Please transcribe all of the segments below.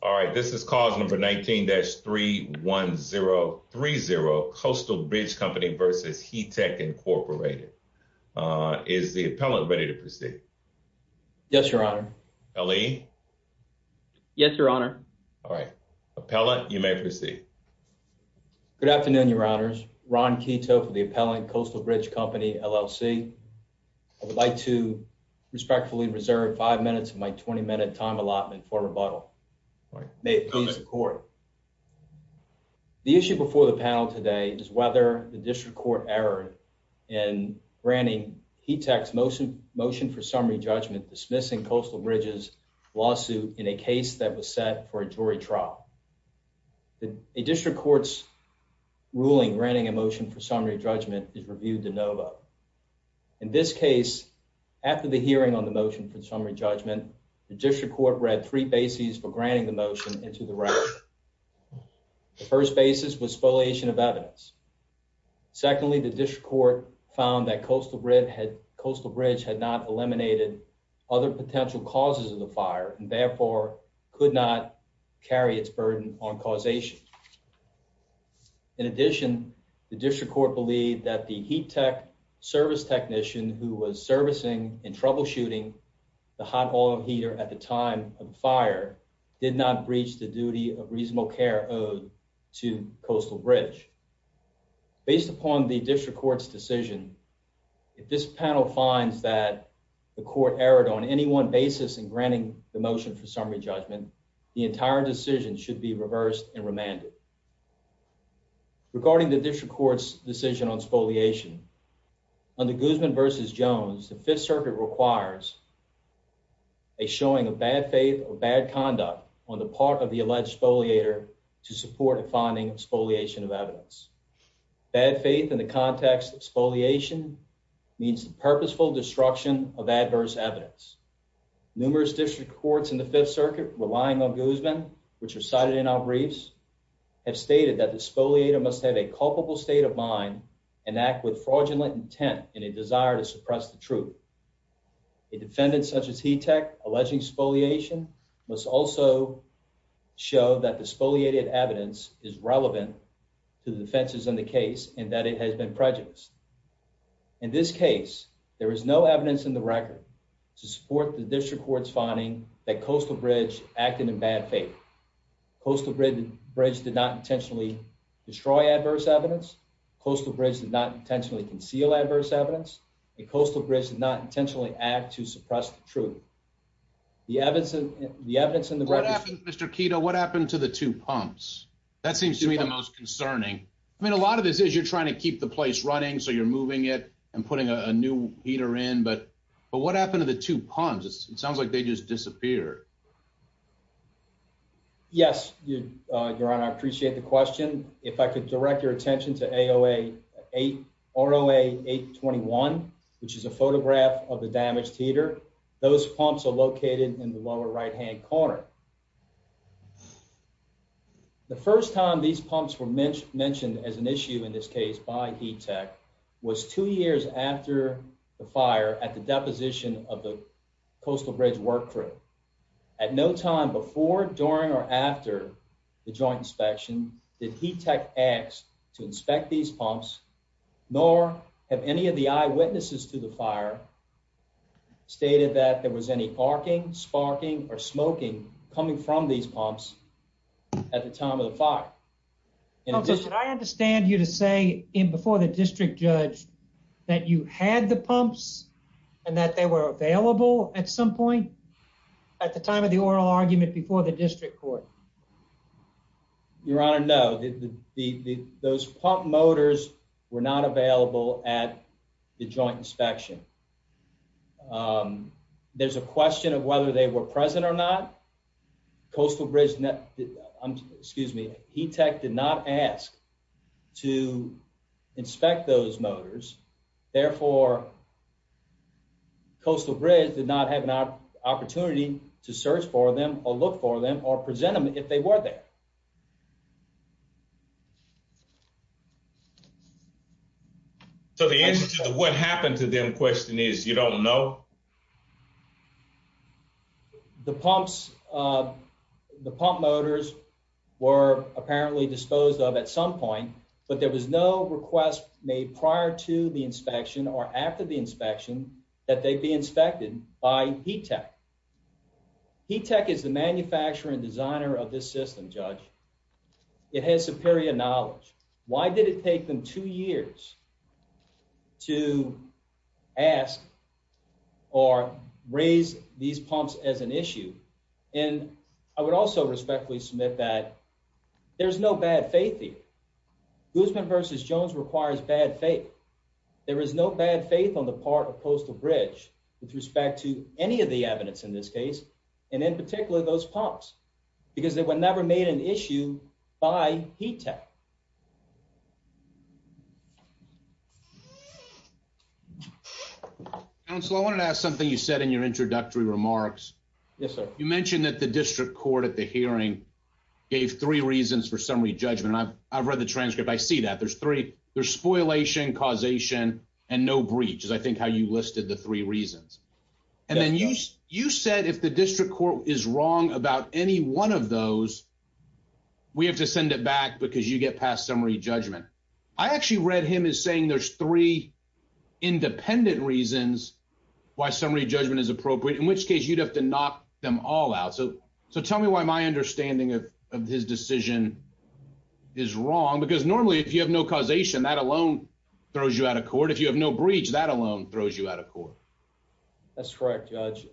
All right, this is cause number 19-31030, Coastal Bridge Company v. Heatec, Incorporated. Is the appellant ready to proceed? Yes, your honor. L.E.? Yes, your honor. All right, appellant, you may proceed. Good afternoon, your honors. Ron Kito for the appellant, Coastal Bridge Company, L.L.C. I would like to respectfully reserve five minutes of my 20-minute time allotment for rebuttal. May it please the court. The issue before the panel today is whether the district court erred in granting Heatec's motion for summary judgment dismissing Coastal Bridge's lawsuit in a case that was set for a jury trial. A district court's ruling granting a motion for summary judgment is reviewed de novo. In this case, after the district court read three bases for granting the motion into the record. The first basis was spoliation of evidence. Secondly, the district court found that Coastal Bridge had not eliminated other potential causes of the fire and therefore could not carry its burden on causation. In addition, the district court believed that the Heatec service technician who was servicing and troubleshooting the hot oil heater at the time of the fire did not breach the duty of reasonable care owed to Coastal Bridge. Based upon the district court's decision, if this panel finds that the court erred on any one basis in granting the motion for summary judgment, the entire decision should be reversed and remanded. Regarding the district court's decision on spoliation under Guzman versus Jones, the Fifth Circuit requires a showing of bad faith or bad conduct on the part of the alleged spoliator to support a finding of spoliation of evidence. Bad faith in the context of spoliation means purposeful destruction of adverse evidence. Numerous district courts in the Fifth Circuit, relying on Guzman, which are cited in our briefs, have stated that the spoliator must have a culpable state of mind and act with fraudulent intent in a desire to suppress the truth. A defendant such as Heatec alleging spoliation must also show that the spoliated evidence is relevant to the defenses in the case and that it has been prejudiced. In this case, there is no evidence in the record to support the district court's finding that Coastal Bridge acted in bad faith. Coastal Bridge did not intentionally destroy adverse evidence, Coastal Bridge did not intentionally conceal adverse evidence, and Coastal Bridge did not intentionally act to suppress the truth. The evidence in the record... What happened to the two pumps? That seems to me the most concerning. I mean, a lot of this is you're trying to keep the place running, so you're moving it and putting a new heater in, but what happened to the two pumps? It sounds like they just disappeared. Yes, Your Honor, I appreciate the question. If I could direct your attention to ROA 821, which is a photograph of the damaged heater, those pumps are located in the lower right-hand corner. The first time these pumps were mentioned as an issue in this case by Heatec was two years after the fire at the deposition of the Coastal Bridge work crew. At no time before, during, or after the joint inspection did Heatec ask to inspect these pumps, nor have any of the eyewitnesses to the fire stated that there was any arcing, sparking, or smoking coming from these pumps at the time of the fire. Could I understand you to say in before the district judge that you had the pumps and that they were available at some point at the time of the oral argument before the district court? Your Honor, no. Those pump motors were not available at the joint inspection. There's a question of whether they were present or not. Coastal Bridge, excuse me, Heatec did not ask to inspect those motors. Therefore, Coastal Bridge did not have an opportunity to search for them or look for them or present them if they were there. So the answer to the what happened to them question is you don't know. The pumps, the pump motors were apparently disposed of at some point, but there was no request made prior to the inspection or after the inspection that they be inspected by Heatec. Heatec is the manufacturer and designer of this system, Judge. It has superior knowledge. Why did it take them two years to ask or raise these pumps as an issue? And I would also respectfully submit that there's no bad faith here. Guzman v. Jones requires bad faith. There is no bad faith on the part of Coastal Bridge with respect to any of the evidence in this case, and in particular those pumps, because they were never made an issue by Heatec. Counselor, I wanted to ask something you said in your introductory remarks. You mentioned that the district court at the hearing gave three reasons for summary judgment, and I've read the transcript. I see that. There's three. There's spoilation, causation, and no breach, is I think how you listed the three reasons. And then you said if the district court is wrong about any one of those, we have to send it back because you get past summary judgment. I actually read him as saying there's three independent reasons why summary judgment is to knock them all out. So tell me why my understanding of his decision is wrong, because normally if you have no causation, that alone throws you out of court. If you have no breach, that alone throws you out of court. That's correct, Judge.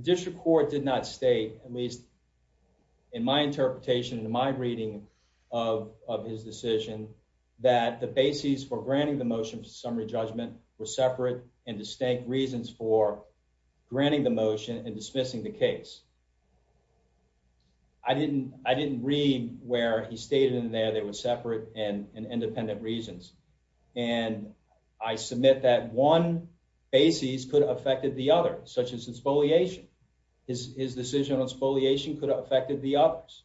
District court did not state, at least in my interpretation, in my reading of his decision, that the basis for granting the dismissing the case. I didn't read where he stated in there there was separate and independent reasons, and I submit that one basis could have affected the other, such as his decision on spoliation could have affected the others.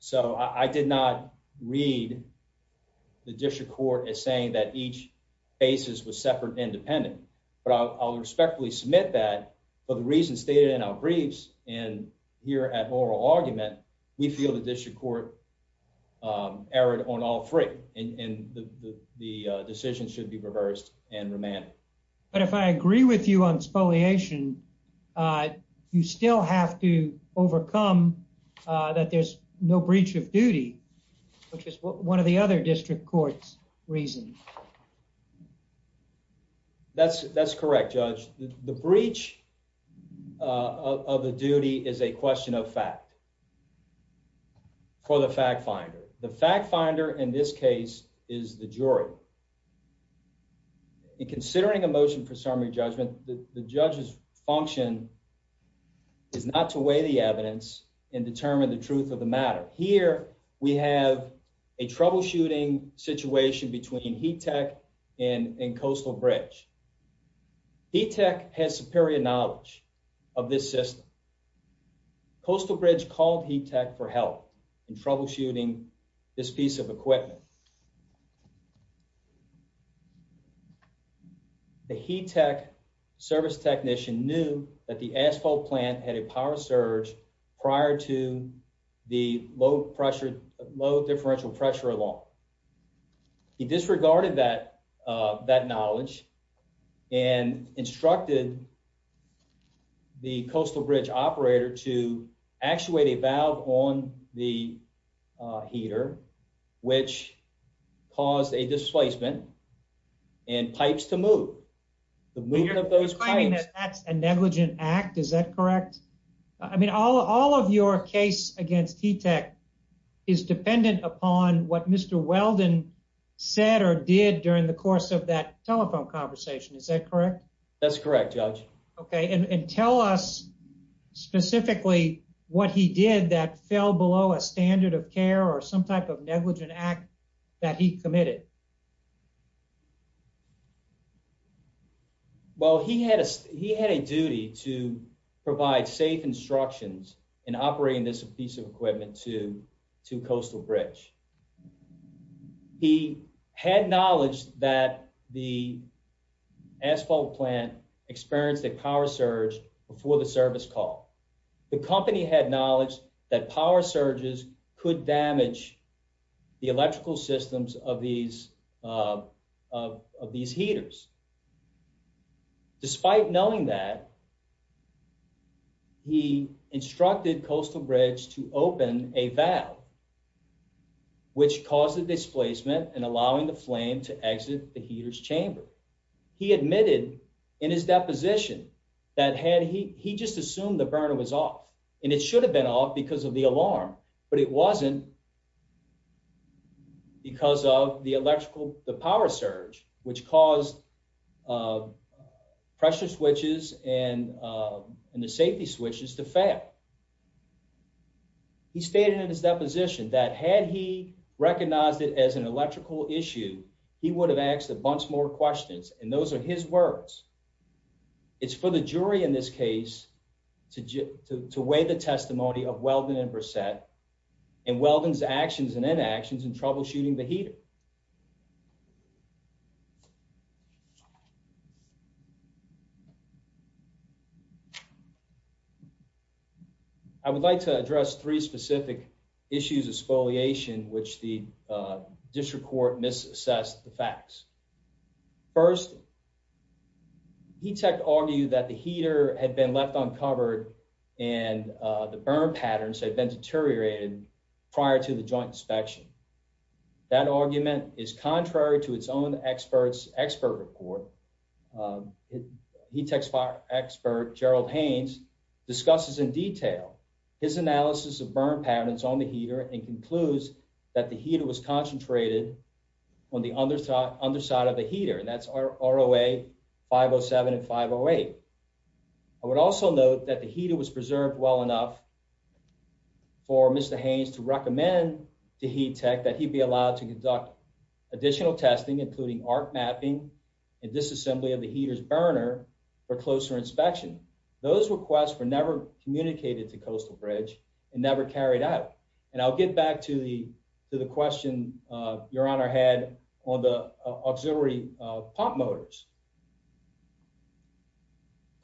So I did not read the district court as saying that each submit that, but the reason stated in our briefs and here at oral argument, we feel the district court erred on all three, and the decision should be reversed and remanded. But if I agree with you on spoliation, you still have to overcome that there's no breach of duty, which is one of the district court's reasons. That's correct, Judge. The breach of the duty is a question of fact for the fact finder. The fact finder in this case is the jury. Considering a motion for summary judgment, the judge's function is not to weigh the evidence and determine the truth of the matter. Here we have a troubleshooting situation between Heat Tech and Coastal Bridge. Heat Tech has superior knowledge of this system. Coastal Bridge called Heat Tech for help in troubleshooting this piece of equipment. The Heat Tech service technician knew that the asphalt plant had a power surge prior to the low pressure, low differential pressure alarm. He disregarded that knowledge and instructed the Coastal Bridge operator to actuate a valve on the heater, which caused a displacement and pipes to move. The movement of those pipes... You're claiming that that's a negligent act. Is that correct? I mean, all of your case against Heat Tech is dependent upon what Mr. Weldon said or did during the course of that telephone conversation. Is that correct? That's correct, Judge. Okay, and tell us specifically what he did that fell below a standard of care or some type of negligent act that he committed. Well, he had a duty to provide safe instructions in operating this piece of equipment to experienced a power surge before the service call. The company had knowledge that power surges could damage the electrical systems of these heaters. Despite knowing that, he instructed Coastal Bridge to open a valve, which caused a displacement and allowing the in his deposition that had he just assumed the burner was off, and it should have been off because of the alarm, but it wasn't because of the electrical, the power surge, which caused pressure switches and the safety switches to fail. He stated in his deposition that had he recognized it as an electrical issue, he would have asked a bunch more questions, and those are his words. It's for the jury in this case to weigh the testimony of Weldon and Brissette and Weldon's actions and inactions in troubleshooting the heater. I would like to address three specific issues of spoliation, which the district court misassessed the facts. First, he argued that the heater had been left uncovered and the burn patterns had been deteriorated prior to the joint inspection. That argument was based on the fact that the contrary to its own expert report, heat tech expert Gerald Haynes discusses in detail his analysis of burn patterns on the heater and concludes that the heater was concentrated on the underside of the heater, and that's ROA 507 and 508. I would also note that the heater was preserved well enough for Mr. Haynes to recommend to heat tech that he be allowed to additional testing including arc mapping and disassembly of the heater's burner for closer inspection. Those requests were never communicated to Coastal Bridge and never carried out, and I'll get back to the to the question your honor had on the auxiliary pump motors.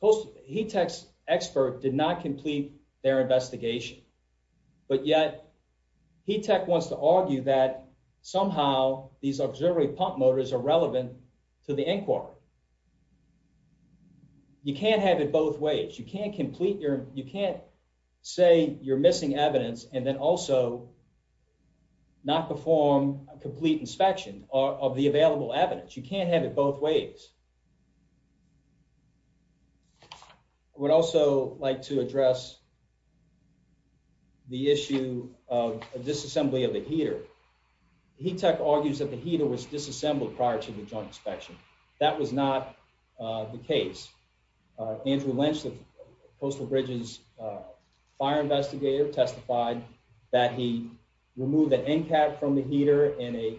Coastal, heat tech's expert did not complete their investigation, but yet heat tech wants to argue that somehow these auxiliary pump motors are relevant to the inquiry. You can't have it both ways. You can't complete your, you can't say you're missing evidence and then also not perform a complete inspection of the available evidence. You can't have it both ways. I would also like to address the issue of disassembly of the heater. Heat tech argues that the heater was disassembled prior to the joint inspection. That was not the case. Andrew Lynch, the Coastal Bridge's fire investigator, testified that he removed the end cap from the heater and a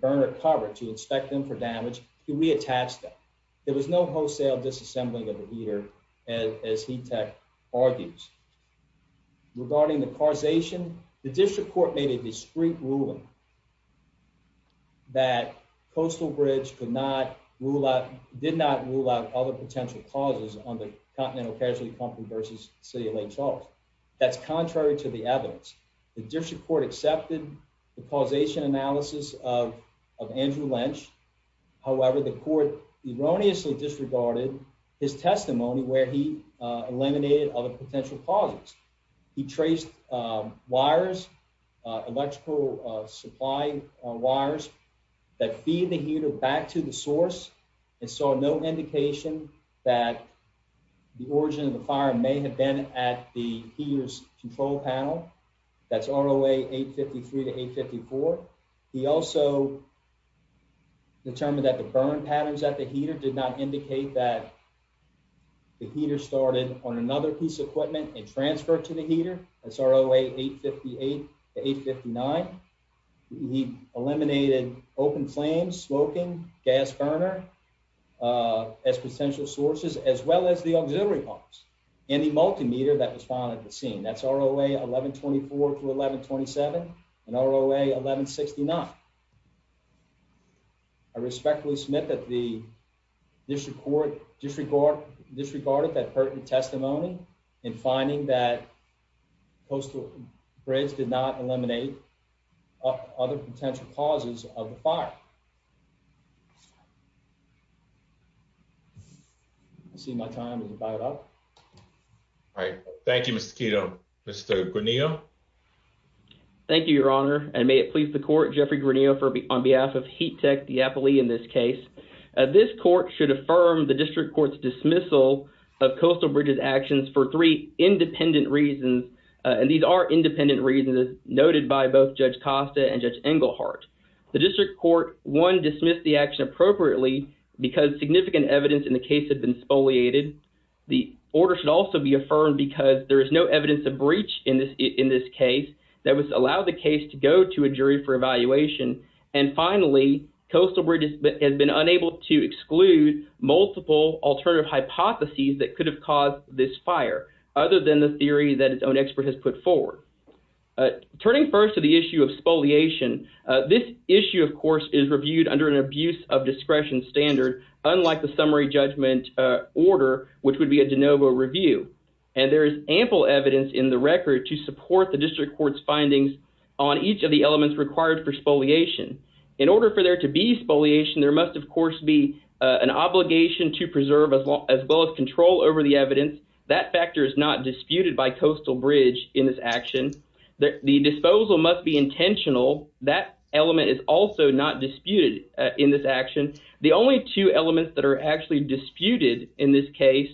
burner cover to inspect them for damage. He attached them. There was no wholesale disassembling of the heater as heat tech argues. Regarding the causation, the district court made a discreet ruling that Coastal Bridge could not rule out, did not rule out other potential causes on the Continental Casualty Pumping versus the City of Lake Charles. That's contrary to the evidence. The district court accepted the causation analysis of Andrew Lynch. However, the court erroneously disregarded his testimony where he eliminated other potential causes. He traced wires, electrical supply wires that feed the heater back to the source and saw no indication that the origin of the fire may have been at the heater's control panel. That's ROA 853 to 854. He also determined that the burn patterns at the heater did not indicate that the heater started on another piece of equipment and transferred to the heater. That's ROA 858 to 859. He eliminated open flames, smoking, gas burner as potential sources as well as the auxiliary pumps and the multimeter that was found at the scene. That's ROA 1124 to 1127 and ROA 1169. I respectfully submit that the district court disregarded that pertinent testimony in finding that coastal bridges did not eliminate other potential causes of the fire. I see my time is about up. All right. Thank you, Mr. Quito. Mr. Guarnillo. Thank you, your honor, and may it please the court. Jeffrey Guarnillo on behalf of Heat Tech Diapoli in this case. This court should affirm the district court's dismissal of coastal bridges actions for three independent reasons, and these are independent reasons noted by both Judge Costa and Judge Engelhardt. The district court, one, dismissed the action appropriately because significant evidence in the case had been spoliated. The order should also be affirmed because there is no evidence of breach in this case that would allow the case to go to a jury for evaluation. And finally, coastal bridges has been unable to exclude multiple alternative hypotheses that could have caused this fire, other than the theory that its own expert has put forward. Turning first to the issue of spoliation, this issue, of course, is reviewed under an abuse of discretion standard, unlike the summary judgment order, which would be a de novo review. And there is ample evidence in the record to support the district court's findings on each of the elements required for spoliation. In order for there to be spoliation, there must, of course, be an obligation to preserve as well as control over the evidence. That factor is not disputed by coastal bridge in this action. The disposal must be intentional. That element is also not disputed in this action. The only two elements that are actually disputed in this case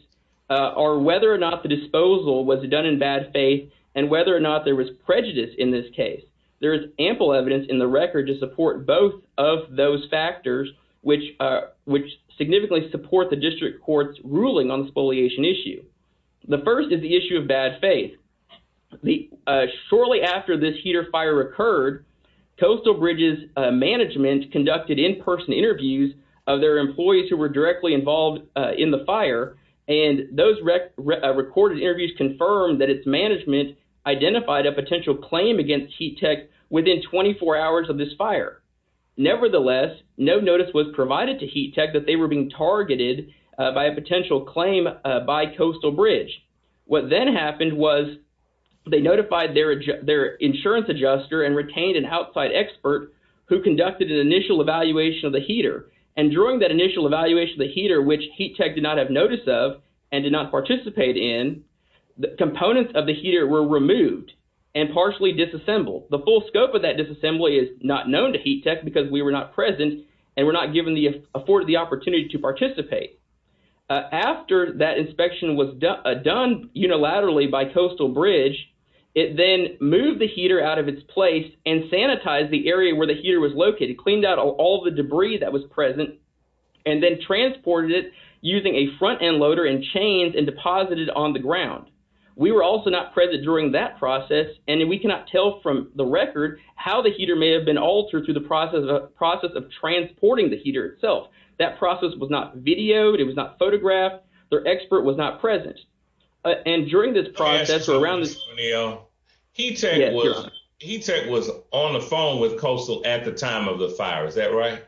are whether or not the disposal was done in bad faith and whether or not there was prejudice in this case. There is ample evidence in the record to support both of those factors, which significantly support the district court's ruling on the spoliation issue. The first is the issue of bad faith. Shortly after this heater fire occurred, coastal bridges management conducted in-person interviews of their employees who were directly involved in the fire. And those recorded interviews confirmed that its management identified a potential claim against Heat Tech within 24 hours of this fire. Nevertheless, no notice was provided to Heat Tech that they were being targeted by a potential claim by coastal bridge. What then happened was they notified their insurance adjuster and retained an outside expert who conducted an initial evaluation of the heater. And during that initial evaluation of the heater, which Heat Tech did not have notice of and did not participate in, the components of the heater were removed and partially disassembled. The full scope of that disassembly is not known to Heat Tech because we were not present and were not afforded the opportunity to participate. After that inspection was done unilaterally by coastal bridge, it then moved the heater out of its place and sanitized the area where the heater was located, cleaned out all the debris that was present, and then transported it using a front-end loader and chains and deposited on the ground. We were also not present during that process, and we cannot tell from the record how the heater may have been altered through the process of transporting the heater itself. That process was not videoed. It was not photographed. Their expert was not present. And during this process around this... I have a question for you, Sunil. Heat Tech was on the phone with Coastal at the time of the fire. Is that right?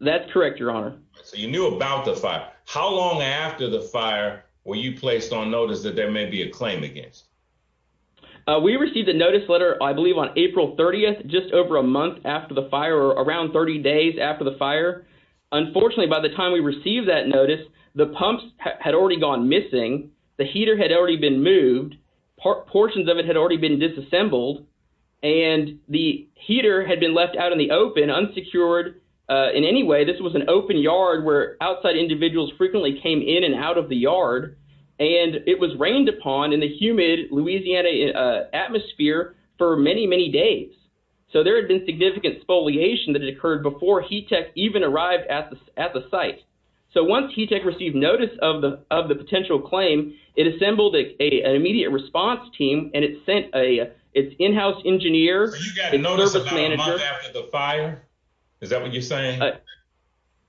That's correct, Your Honor. So you knew about the fire. How long after the fire were you placed on notice that there may be a claim against? We received a notice letter, I believe, on April 30th, just over a month after the fire, or around 30 days after the fire. Unfortunately, by the time we received that notice, the pumps had already gone missing, the heater had already been moved, portions of it had already been disassembled, and the heater had been left out in the open, unsecured. In any way, this was an open yard where outside individuals frequently came in and out of the yard, and it was rained upon in the humid Louisiana atmosphere for many, many days. So there had been significant spoliation that had occurred before Heat Tech even arrived at the site. So once Heat Tech received notice of the potential claim, it assembled an immediate response team, and it sent its in-house engineer... Is that what you're saying?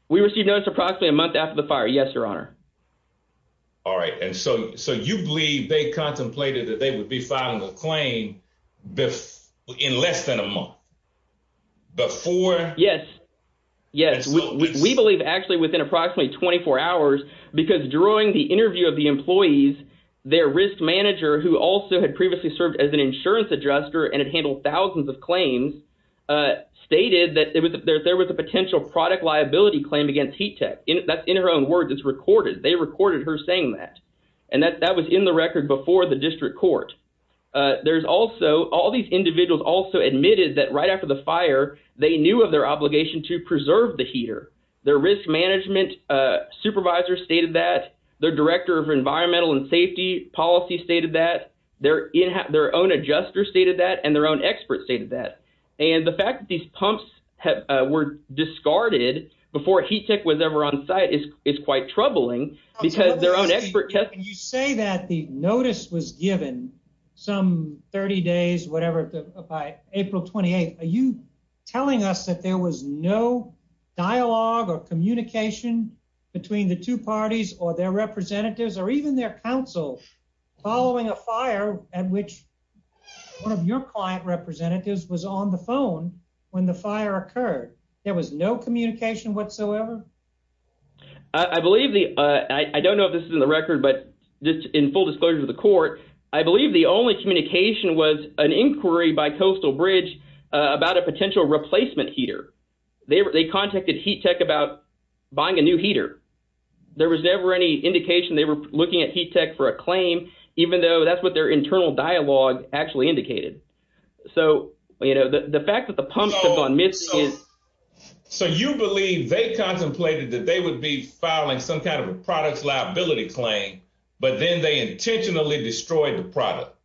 We received notice approximately a month after the fire, yes, Your Honor. All right. And so you believe they contemplated that they would be filing a claim in less than a month before? Yes. Yes. We believe actually within approximately 24 hours, because during the interview of the employees, their risk manager, who also had previously served as an insurance adjuster and had handled thousands of claims, stated that there was a potential product liability claim against Heat Tech. That's in her own words. It's recorded. They recorded her saying that. And that was in the record before the district court. All these individuals also admitted that right after the fire, they knew of their obligation to preserve the heater. Their risk management supervisor stated that. Their director of environmental and safety policy stated that. Their own adjuster stated that. Their own expert stated that. And the fact that these pumps were discarded before Heat Tech was ever on site is quite troubling, because their own expert tested... When you say that the notice was given some 30 days, whatever, by April 28th, are you telling us that there was no dialogue or communication between the two parties or their representatives or even their counsel following a fire at which one of your client representatives was on the phone when the fire occurred? There was no communication whatsoever? I believe the... I don't know if this is in the record, but just in full disclosure to the court, I believe the only communication was an inquiry by Coastal Bridge about a potential replacement heater. They contacted Heat Tech about buying a new heater. There was never any indication they were looking at Heat Tech for a claim, even though that's what their internal dialogue actually indicated. So, you know, the fact that the pumps have gone missing is... So you believe they contemplated that they would be filing some kind of a products liability claim, but then they intentionally destroyed the product.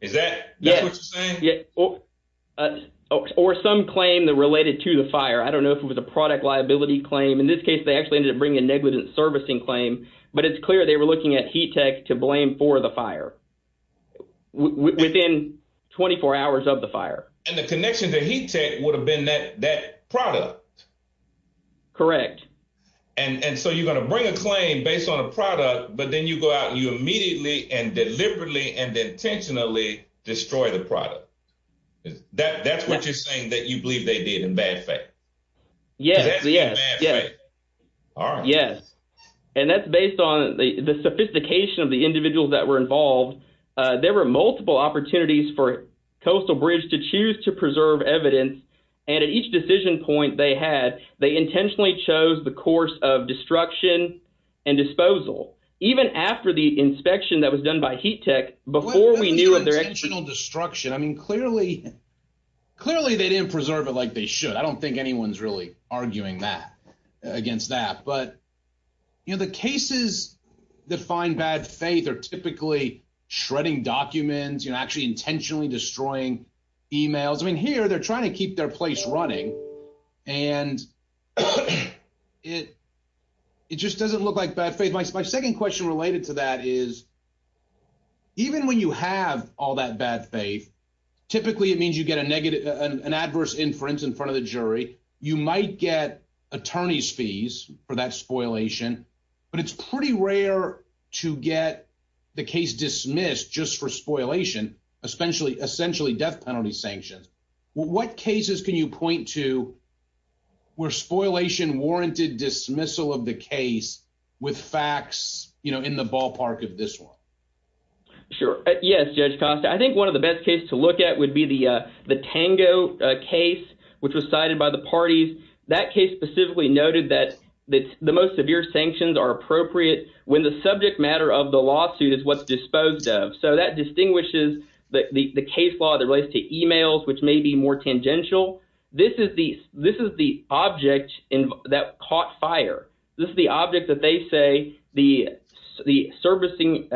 Is that what you're saying? Yeah, or some claim that related to the fire. I don't know if it was a product liability claim. In this case, they actually ended up bringing a negligent servicing claim, but it's clear they were looking at Heat Tech to blame for the fire within 24 hours of the fire. And the connection to Heat Tech would have been that product. Correct. And so you're going to bring a claim based on a product, but then you go out and you that's what you're saying that you believe they did in bad faith. Yes, yes, yes. All right. Yes. And that's based on the sophistication of the individuals that were involved. There were multiple opportunities for Coastal Bridge to choose to preserve evidence, and at each decision point they had, they intentionally chose the course of destruction and disposal. Even after the inspection that was done by Heat Tech, before we knew... I mean, clearly they didn't preserve it like they should. I don't think anyone's really arguing against that. But the cases that find bad faith are typically shredding documents, actually intentionally destroying emails. I mean, here they're trying to keep their place running, and it just doesn't look like bad faith. My second question related to that is, even when you have all that bad faith, typically it means you get an adverse inference in front of the jury. You might get attorney's fees for that spoilation, but it's pretty rare to get the case dismissed just for spoilation, essentially death penalty sanctions. Well, what cases can you point to where spoilation warranted dismissal of the case with facts in the ballpark of this one? Sure. Yes, Judge Costa. I think one of the best cases to look at would be the Tango case, which was cited by the parties. That case specifically noted that the most severe sanctions are appropriate when the subject matter of the lawsuit is what's disposed of. So that distinguishes the case law that relates to emails, which may be more tangential. This is the object that caught fire. This is the object that they say the servicing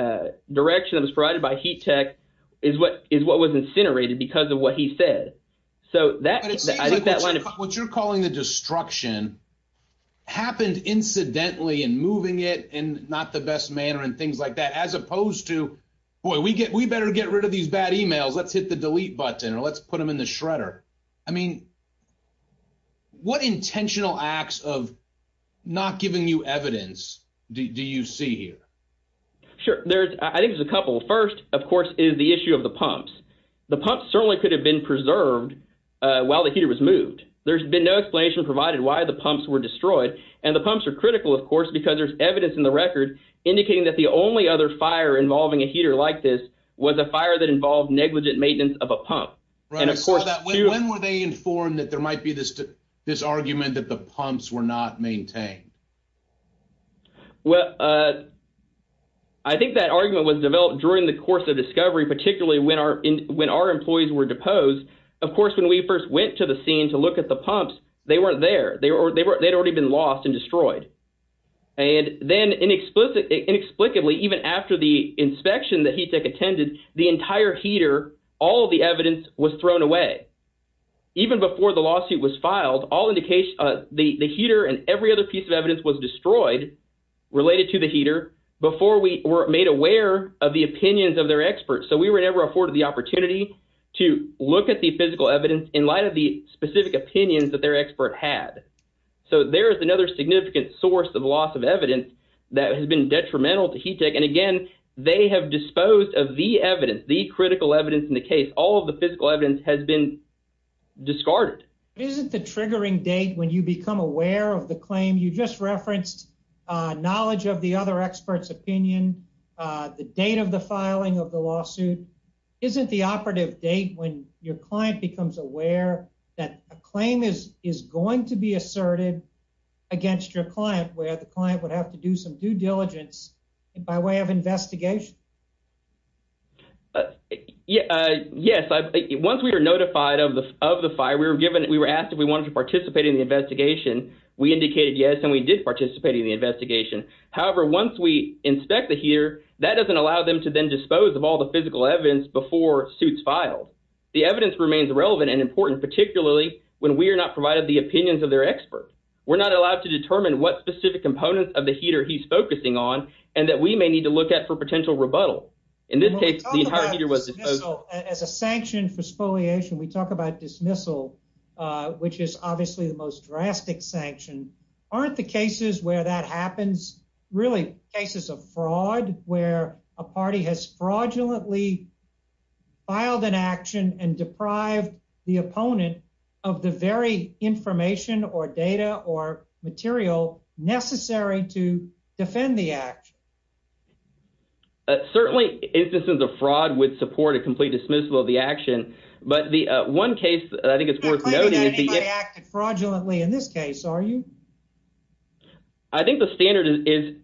direction that was provided by Heat Tech is what was incinerated because of what he said. What you're calling the destruction happened incidentally in moving it in not the best manner and things like that, as opposed to, boy, we better get rid of these bad emails. Let's hit the delete button or let's put them in the shredder. I mean, what intentional acts of not giving you evidence do you see here? Sure. I think there's a couple. First, of course, is the issue of the pumps. The pumps certainly could have been preserved while the heater was moved. There's been no explanation provided why the pumps were destroyed. And the pumps are critical, of course, because there's evidence in the record indicating that the only other fire involving a heater like this was a fire that involved negligent maintenance of a pump. Right. When were they informed that there might be this argument that the pumps were not maintained? Well, I think that argument was developed during the course of discovery, particularly when our employees were deposed. Of course, when we first went to the scene to look at the pumps, they weren't there. They'd already been lost and destroyed. And then inexplicably, even after the entire heater, all of the evidence was thrown away. Even before the lawsuit was filed, the heater and every other piece of evidence was destroyed related to the heater before we were made aware of the opinions of their experts. So we were never afforded the opportunity to look at the physical evidence in light of the specific opinions that their expert had. So there is another significant source of loss of evidence that has been detrimental to heat tech. And again, they have disposed of the evidence, the critical evidence in the case. All of the physical evidence has been discarded. But isn't the triggering date when you become aware of the claim you just referenced, knowledge of the other experts opinion, the date of the filing of the lawsuit, isn't the operative date when your client becomes aware that a claim is going to be asserted against your client where the client would have to do some due diligence by way of investigation? Yes. Once we were notified of the fire, we were asked if we wanted to participate in the investigation. We indicated yes, and we did participate in the investigation. However, once we inspect the heater, that doesn't allow them to then dispose of all the physical evidence before suits filed. The evidence remains relevant and important, particularly when we are not provided the opinions of their experts. We're not allowed to determine what specific components of the heater he's focusing on and that we may need to look at for potential rebuttal. In this case, the entire heater was disposed of. As a sanction for spoliation, we talk about dismissal, which is obviously the most drastic sanction. Aren't the cases where that happens really cases of fraud where a party has fraudulently filed an action and deprived the opponent of the very information or data or material necessary to defend the action? Certainly, instances of fraud would support a complete dismissal of the action, but the one case that I think is worth noting... You're not claiming that anybody acted fraudulently in this case, are you? I think the standard is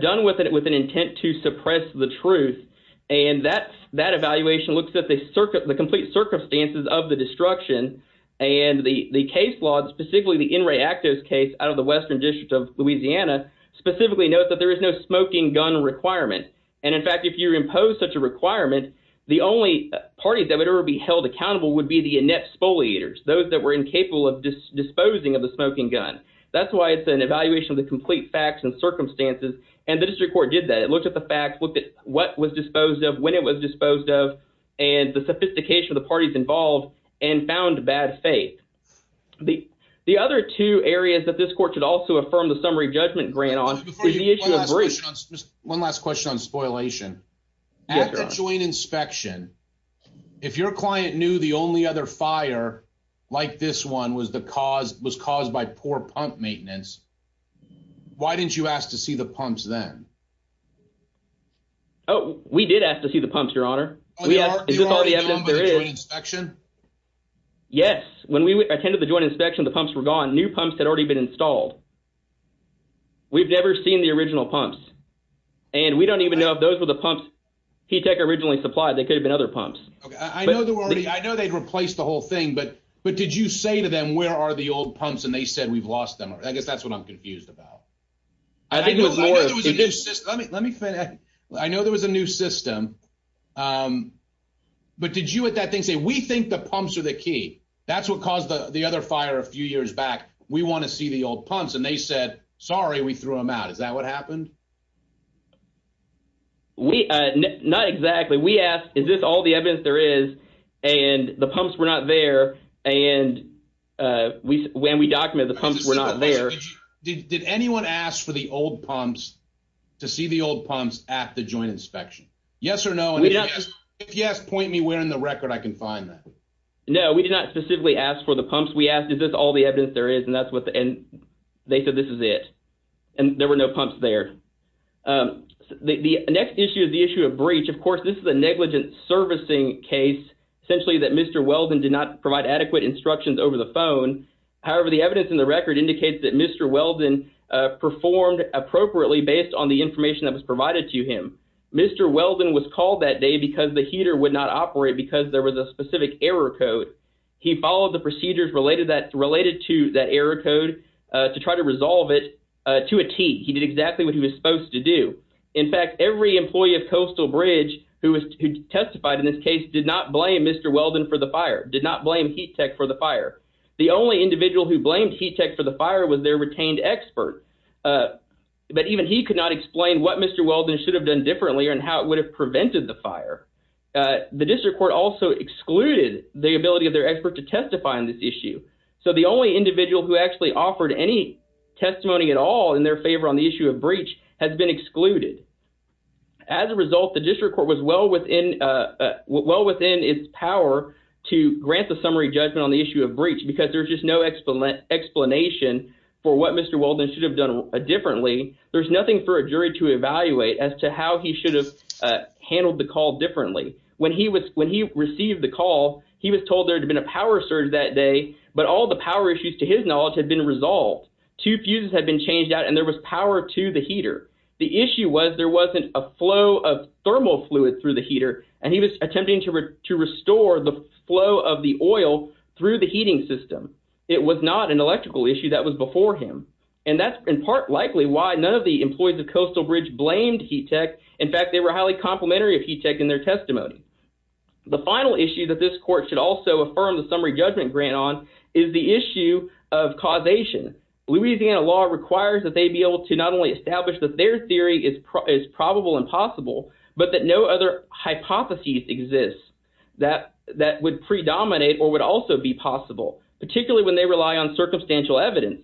done with an intent to suppress the truth, and that evaluation looks at the complete circumstances of the destruction, and the case law, specifically the In Re Actos case out of the Western District of Louisiana, specifically notes that there is no smoking gun requirement. In fact, if you impose such a requirement, the only party that would ever be held accountable would be the inept spoliators, those that were incapable of disposing of the smoking gun. That's why it's an evaluation of the complete facts and circumstances, and the district court did that. It looked at the facts, what was disposed of, when it was disposed of, and the sophistication of the parties involved, and found bad faith. The other two areas that this court could also affirm the summary judgment grant on is the issue of breach. One last question on spoilation. At the joint inspection, if your client knew the only other fire, like this one, was caused by poor pump maintenance, why didn't you ask to see the pumps then? Oh, we did ask to see the pumps, your honor. Is this all the evidence there is? Yes. When we attended the joint inspection, the pumps were gone. New pumps had already been installed. We've never seen the original pumps, and we don't even know if those were the pumps HETEC originally supplied. They could have been other pumps. I know they'd replaced the whole thing, but did you say to them, where are the old pumps, and they said, we've lost them. I guess I know there was a new system, but did you at that thing say, we think the pumps are the key. That's what caused the other fire a few years back. We want to see the old pumps, and they said, sorry, we threw them out. Is that what happened? Not exactly. We asked, is this all the evidence there is, and the pumps were not there, and when we documented, the pumps were not there. Did anyone ask for the old pumps, to see the old pumps at the joint inspection? Yes or no? If yes, point me where in the record I can find that. No, we did not specifically ask for the pumps. We asked, is this all the evidence there is, and they said, this is it, and there were no pumps there. The next issue is the issue of breach. Of course, this is a negligent servicing case, essentially that Mr. Weldon did not provide adequate instructions over the phone. However, the evidence in the record indicates that Mr. Weldon performed appropriately, based on the information that was provided to him. Mr. Weldon was called that day because the heater would not operate because there was a specific error code. He followed the procedures related to that error code to try to resolve it to a T. He did exactly what he was supposed to do. In fact, every employee of Coastal Bridge who testified in this case, did not blame Mr. Weldon for the fire, did not blame Heat Tech for the fire. The only individual who blamed Heat Tech for the fire was their retained expert. But even he could not explain what Mr. Weldon should have done differently and how it would have prevented the fire. The district court also excluded the ability of their expert to testify on this issue. So the only individual who actually offered any testimony at all in their favor on the issue of breach has been excluded. As a result, the district court was well within its power to grant the summary judgment on the issue of breach because there's just no explanation for what Mr. Weldon should have done differently. There's nothing for a jury to evaluate as to how he should have handled the call differently. When he received the call, he was told there had been a power surge that day, but all the power issues to his knowledge had been resolved. Two fuses had been changed out and there was power to the heater. The issue was there wasn't a flow of thermal fluid through the heater, and he was attempting to restore the flow of the oil through the heating system. It was not an electrical issue that was before him. And that's in part likely why none of the employees of Coastal Bridge blamed Heat Tech. In fact, they were highly complimentary of Heat Tech in their testimony. The final issue that this court should also affirm the summary judgment grant on is the issue of causation. Louisiana law requires that they be able to not only establish that their but that no other hypotheses exist that would predominate or would also be possible, particularly when they rely on circumstantial evidence.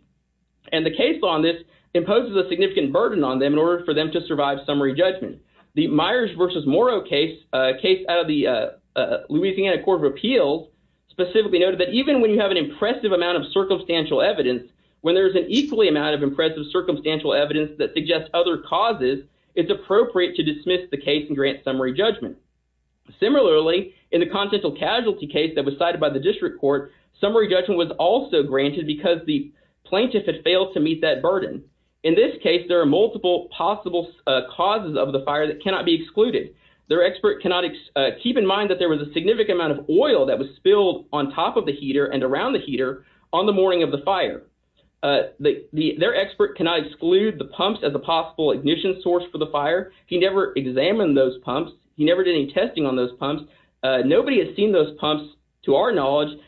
And the case on this imposes a significant burden on them in order for them to survive summary judgment. The Myers versus Morrow case, a case out of the Louisiana Court of Appeals, specifically noted that even when you have an impressive amount of circumstantial evidence, when there's an equally amount of the case and grant summary judgment. Similarly, in the constantial casualty case that was cited by the district court, summary judgment was also granted because the plaintiff had failed to meet that burden. In this case, there are multiple possible causes of the fire that cannot be excluded. Their expert cannot keep in mind that there was a significant amount of oil that was spilled on top of the heater and around the heater on the morning of the fire. Their expert cannot exclude the pumps as a possible ignition source for the fire. He never examined those pumps. He never did any testing on those pumps. Nobody has seen those pumps, to our knowledge,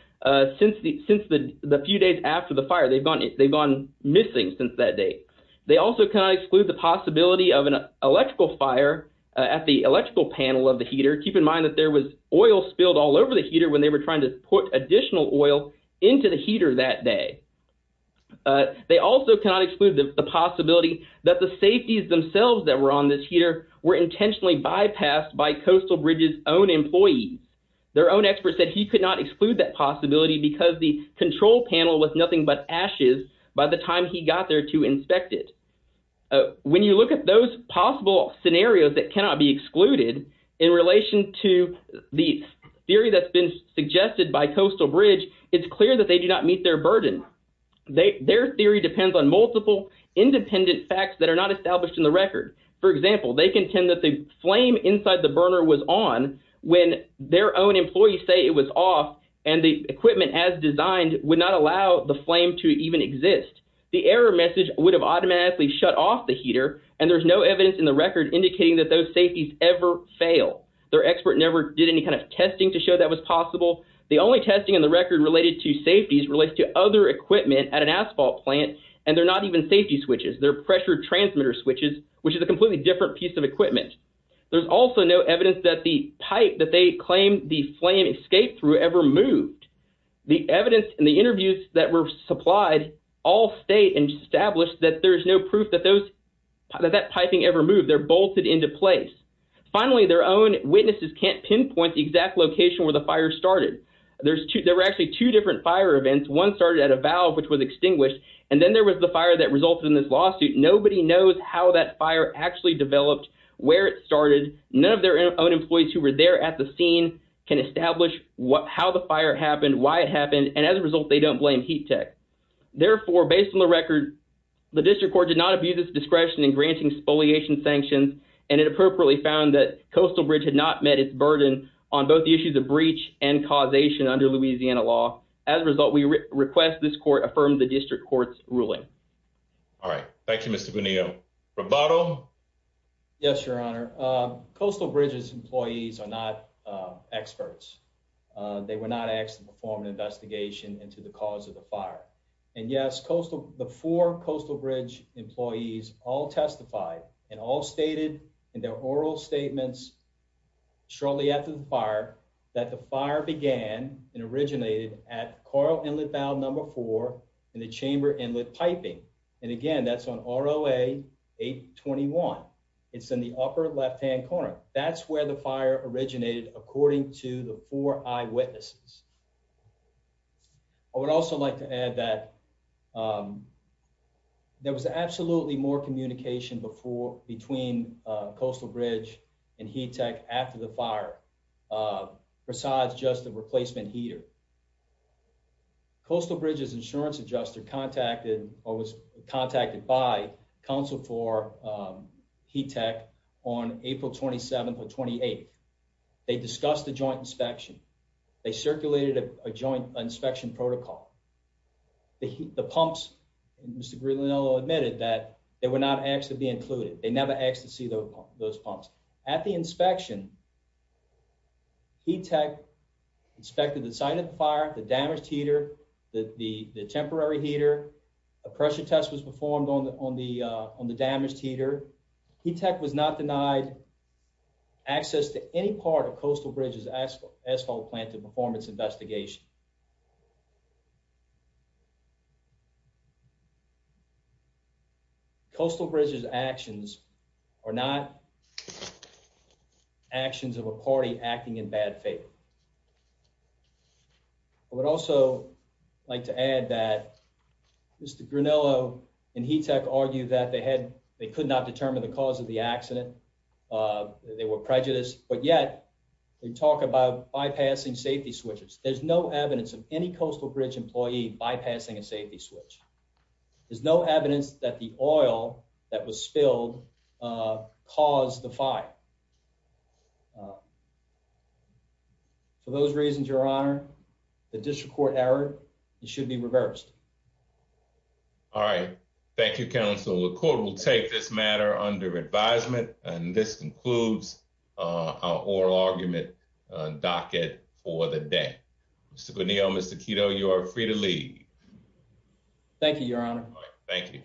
since the few days after the fire. They've gone missing since that date. They also cannot exclude the possibility of an electrical fire at the electrical panel of the heater. Keep in mind that there was oil spilled all over the heater when they were trying to put additional oil into the heater that day. They also cannot exclude the possibility that the safeties themselves that were on this heater were intentionally bypassed by Coastal Bridge's own employees. Their own expert said he could not exclude that possibility because the control panel was nothing but ashes by the time he got there to inspect it. When you look at those possible scenarios that cannot be excluded in relation to the theory that's been suggested by Coastal Bridge, it's clear that they do not meet their burden. Their theory depends on multiple independent facts that are not established in the record. For example, they contend that the flame inside the burner was on when their own employees say it was off, and the equipment as designed would not allow the flame to even exist. The error message would have automatically shut off the heater, and there's no evidence in the record indicating that those safeties ever fail. Their expert never did any kind of testing to show that was possible. The only testing in the record related to safeties relates to other equipment at an asphalt plant, and they're not even safety switches. They're pressure transmitter switches, which is a completely different piece of equipment. There's also no evidence that the pipe that they claim the flame escaped through ever moved. The evidence and the interviews that were supplied all state and established that there's no proof that that piping ever bolted into place. Finally, their own witnesses can't pinpoint the exact location where the fire started. There were actually two different fire events. One started at a valve, which was extinguished, and then there was the fire that resulted in this lawsuit. Nobody knows how that fire actually developed, where it started. None of their own employees who were there at the scene can establish how the fire happened, why it happened, and as a result, they don't blame Heat Tech. Therefore, based on the record, the district court did not abuse its discretion in granting spoliation sanctions, and it appropriately found that Coastal Bridge had not met its burden on both the issues of breach and causation under Louisiana law. As a result, we request this court affirm the district court's ruling. All right. Thank you, Mr. Bonillo. Roboto? Yes, Your Honor. Coastal Bridge's employees are not experts. They were not asked to perform an investigation into the cause of the fire. And yes, the four Coastal Bridge employees all testified and all stated in their oral statements shortly after the fire that the fire began and originated at Coral Inlet Valve Number 4 and the Chamber Inlet Piping. And again, that's on ROA 821. It's in the upper left-hand corner. That's where the fire originated, according to the four eyewitnesses. I would also like to add that there was absolutely more communication between Coastal Bridge and Heat Tech after the fire besides just the replacement heater. Coastal Bridge's insurance adjuster contacted or was contacted by counsel for Heat Tech on April 27th or 28th. They discussed the joint inspection. They circulated a joint inspection protocol. The pumps, Mr. Grigliano admitted that they were not asked to be included. They never asked to see those pumps. At the inspection, Heat Tech inspected the site of the fire, the damaged heater, the temporary heater. A pressure test was performed on the damaged heater. Heat Tech was not denied access to any part of Coastal Bridge's asphalt plant to perform its investigation. Coastal Bridge's actions are not actions of a party acting in bad faith. I would also like to add that Mr. Grigliano and Heat Tech argued that they had, they could not determine the cause of the accident. They were prejudiced. But yet, they talk about bypassing safety switches. There's no evidence of any Coastal Bridge employee bypassing a safety switch. There's no evidence that the oil that was spilled caused the fire. For those reasons, Your Honor, the district court erred. It should be reversed. All right. Thank you, counsel. The court will take this matter under advisement, and this concludes our oral argument docket for the day. Mr. Grigliano, Mr. Kito, you are free to leave. Thank you, Your Honor. Thank you.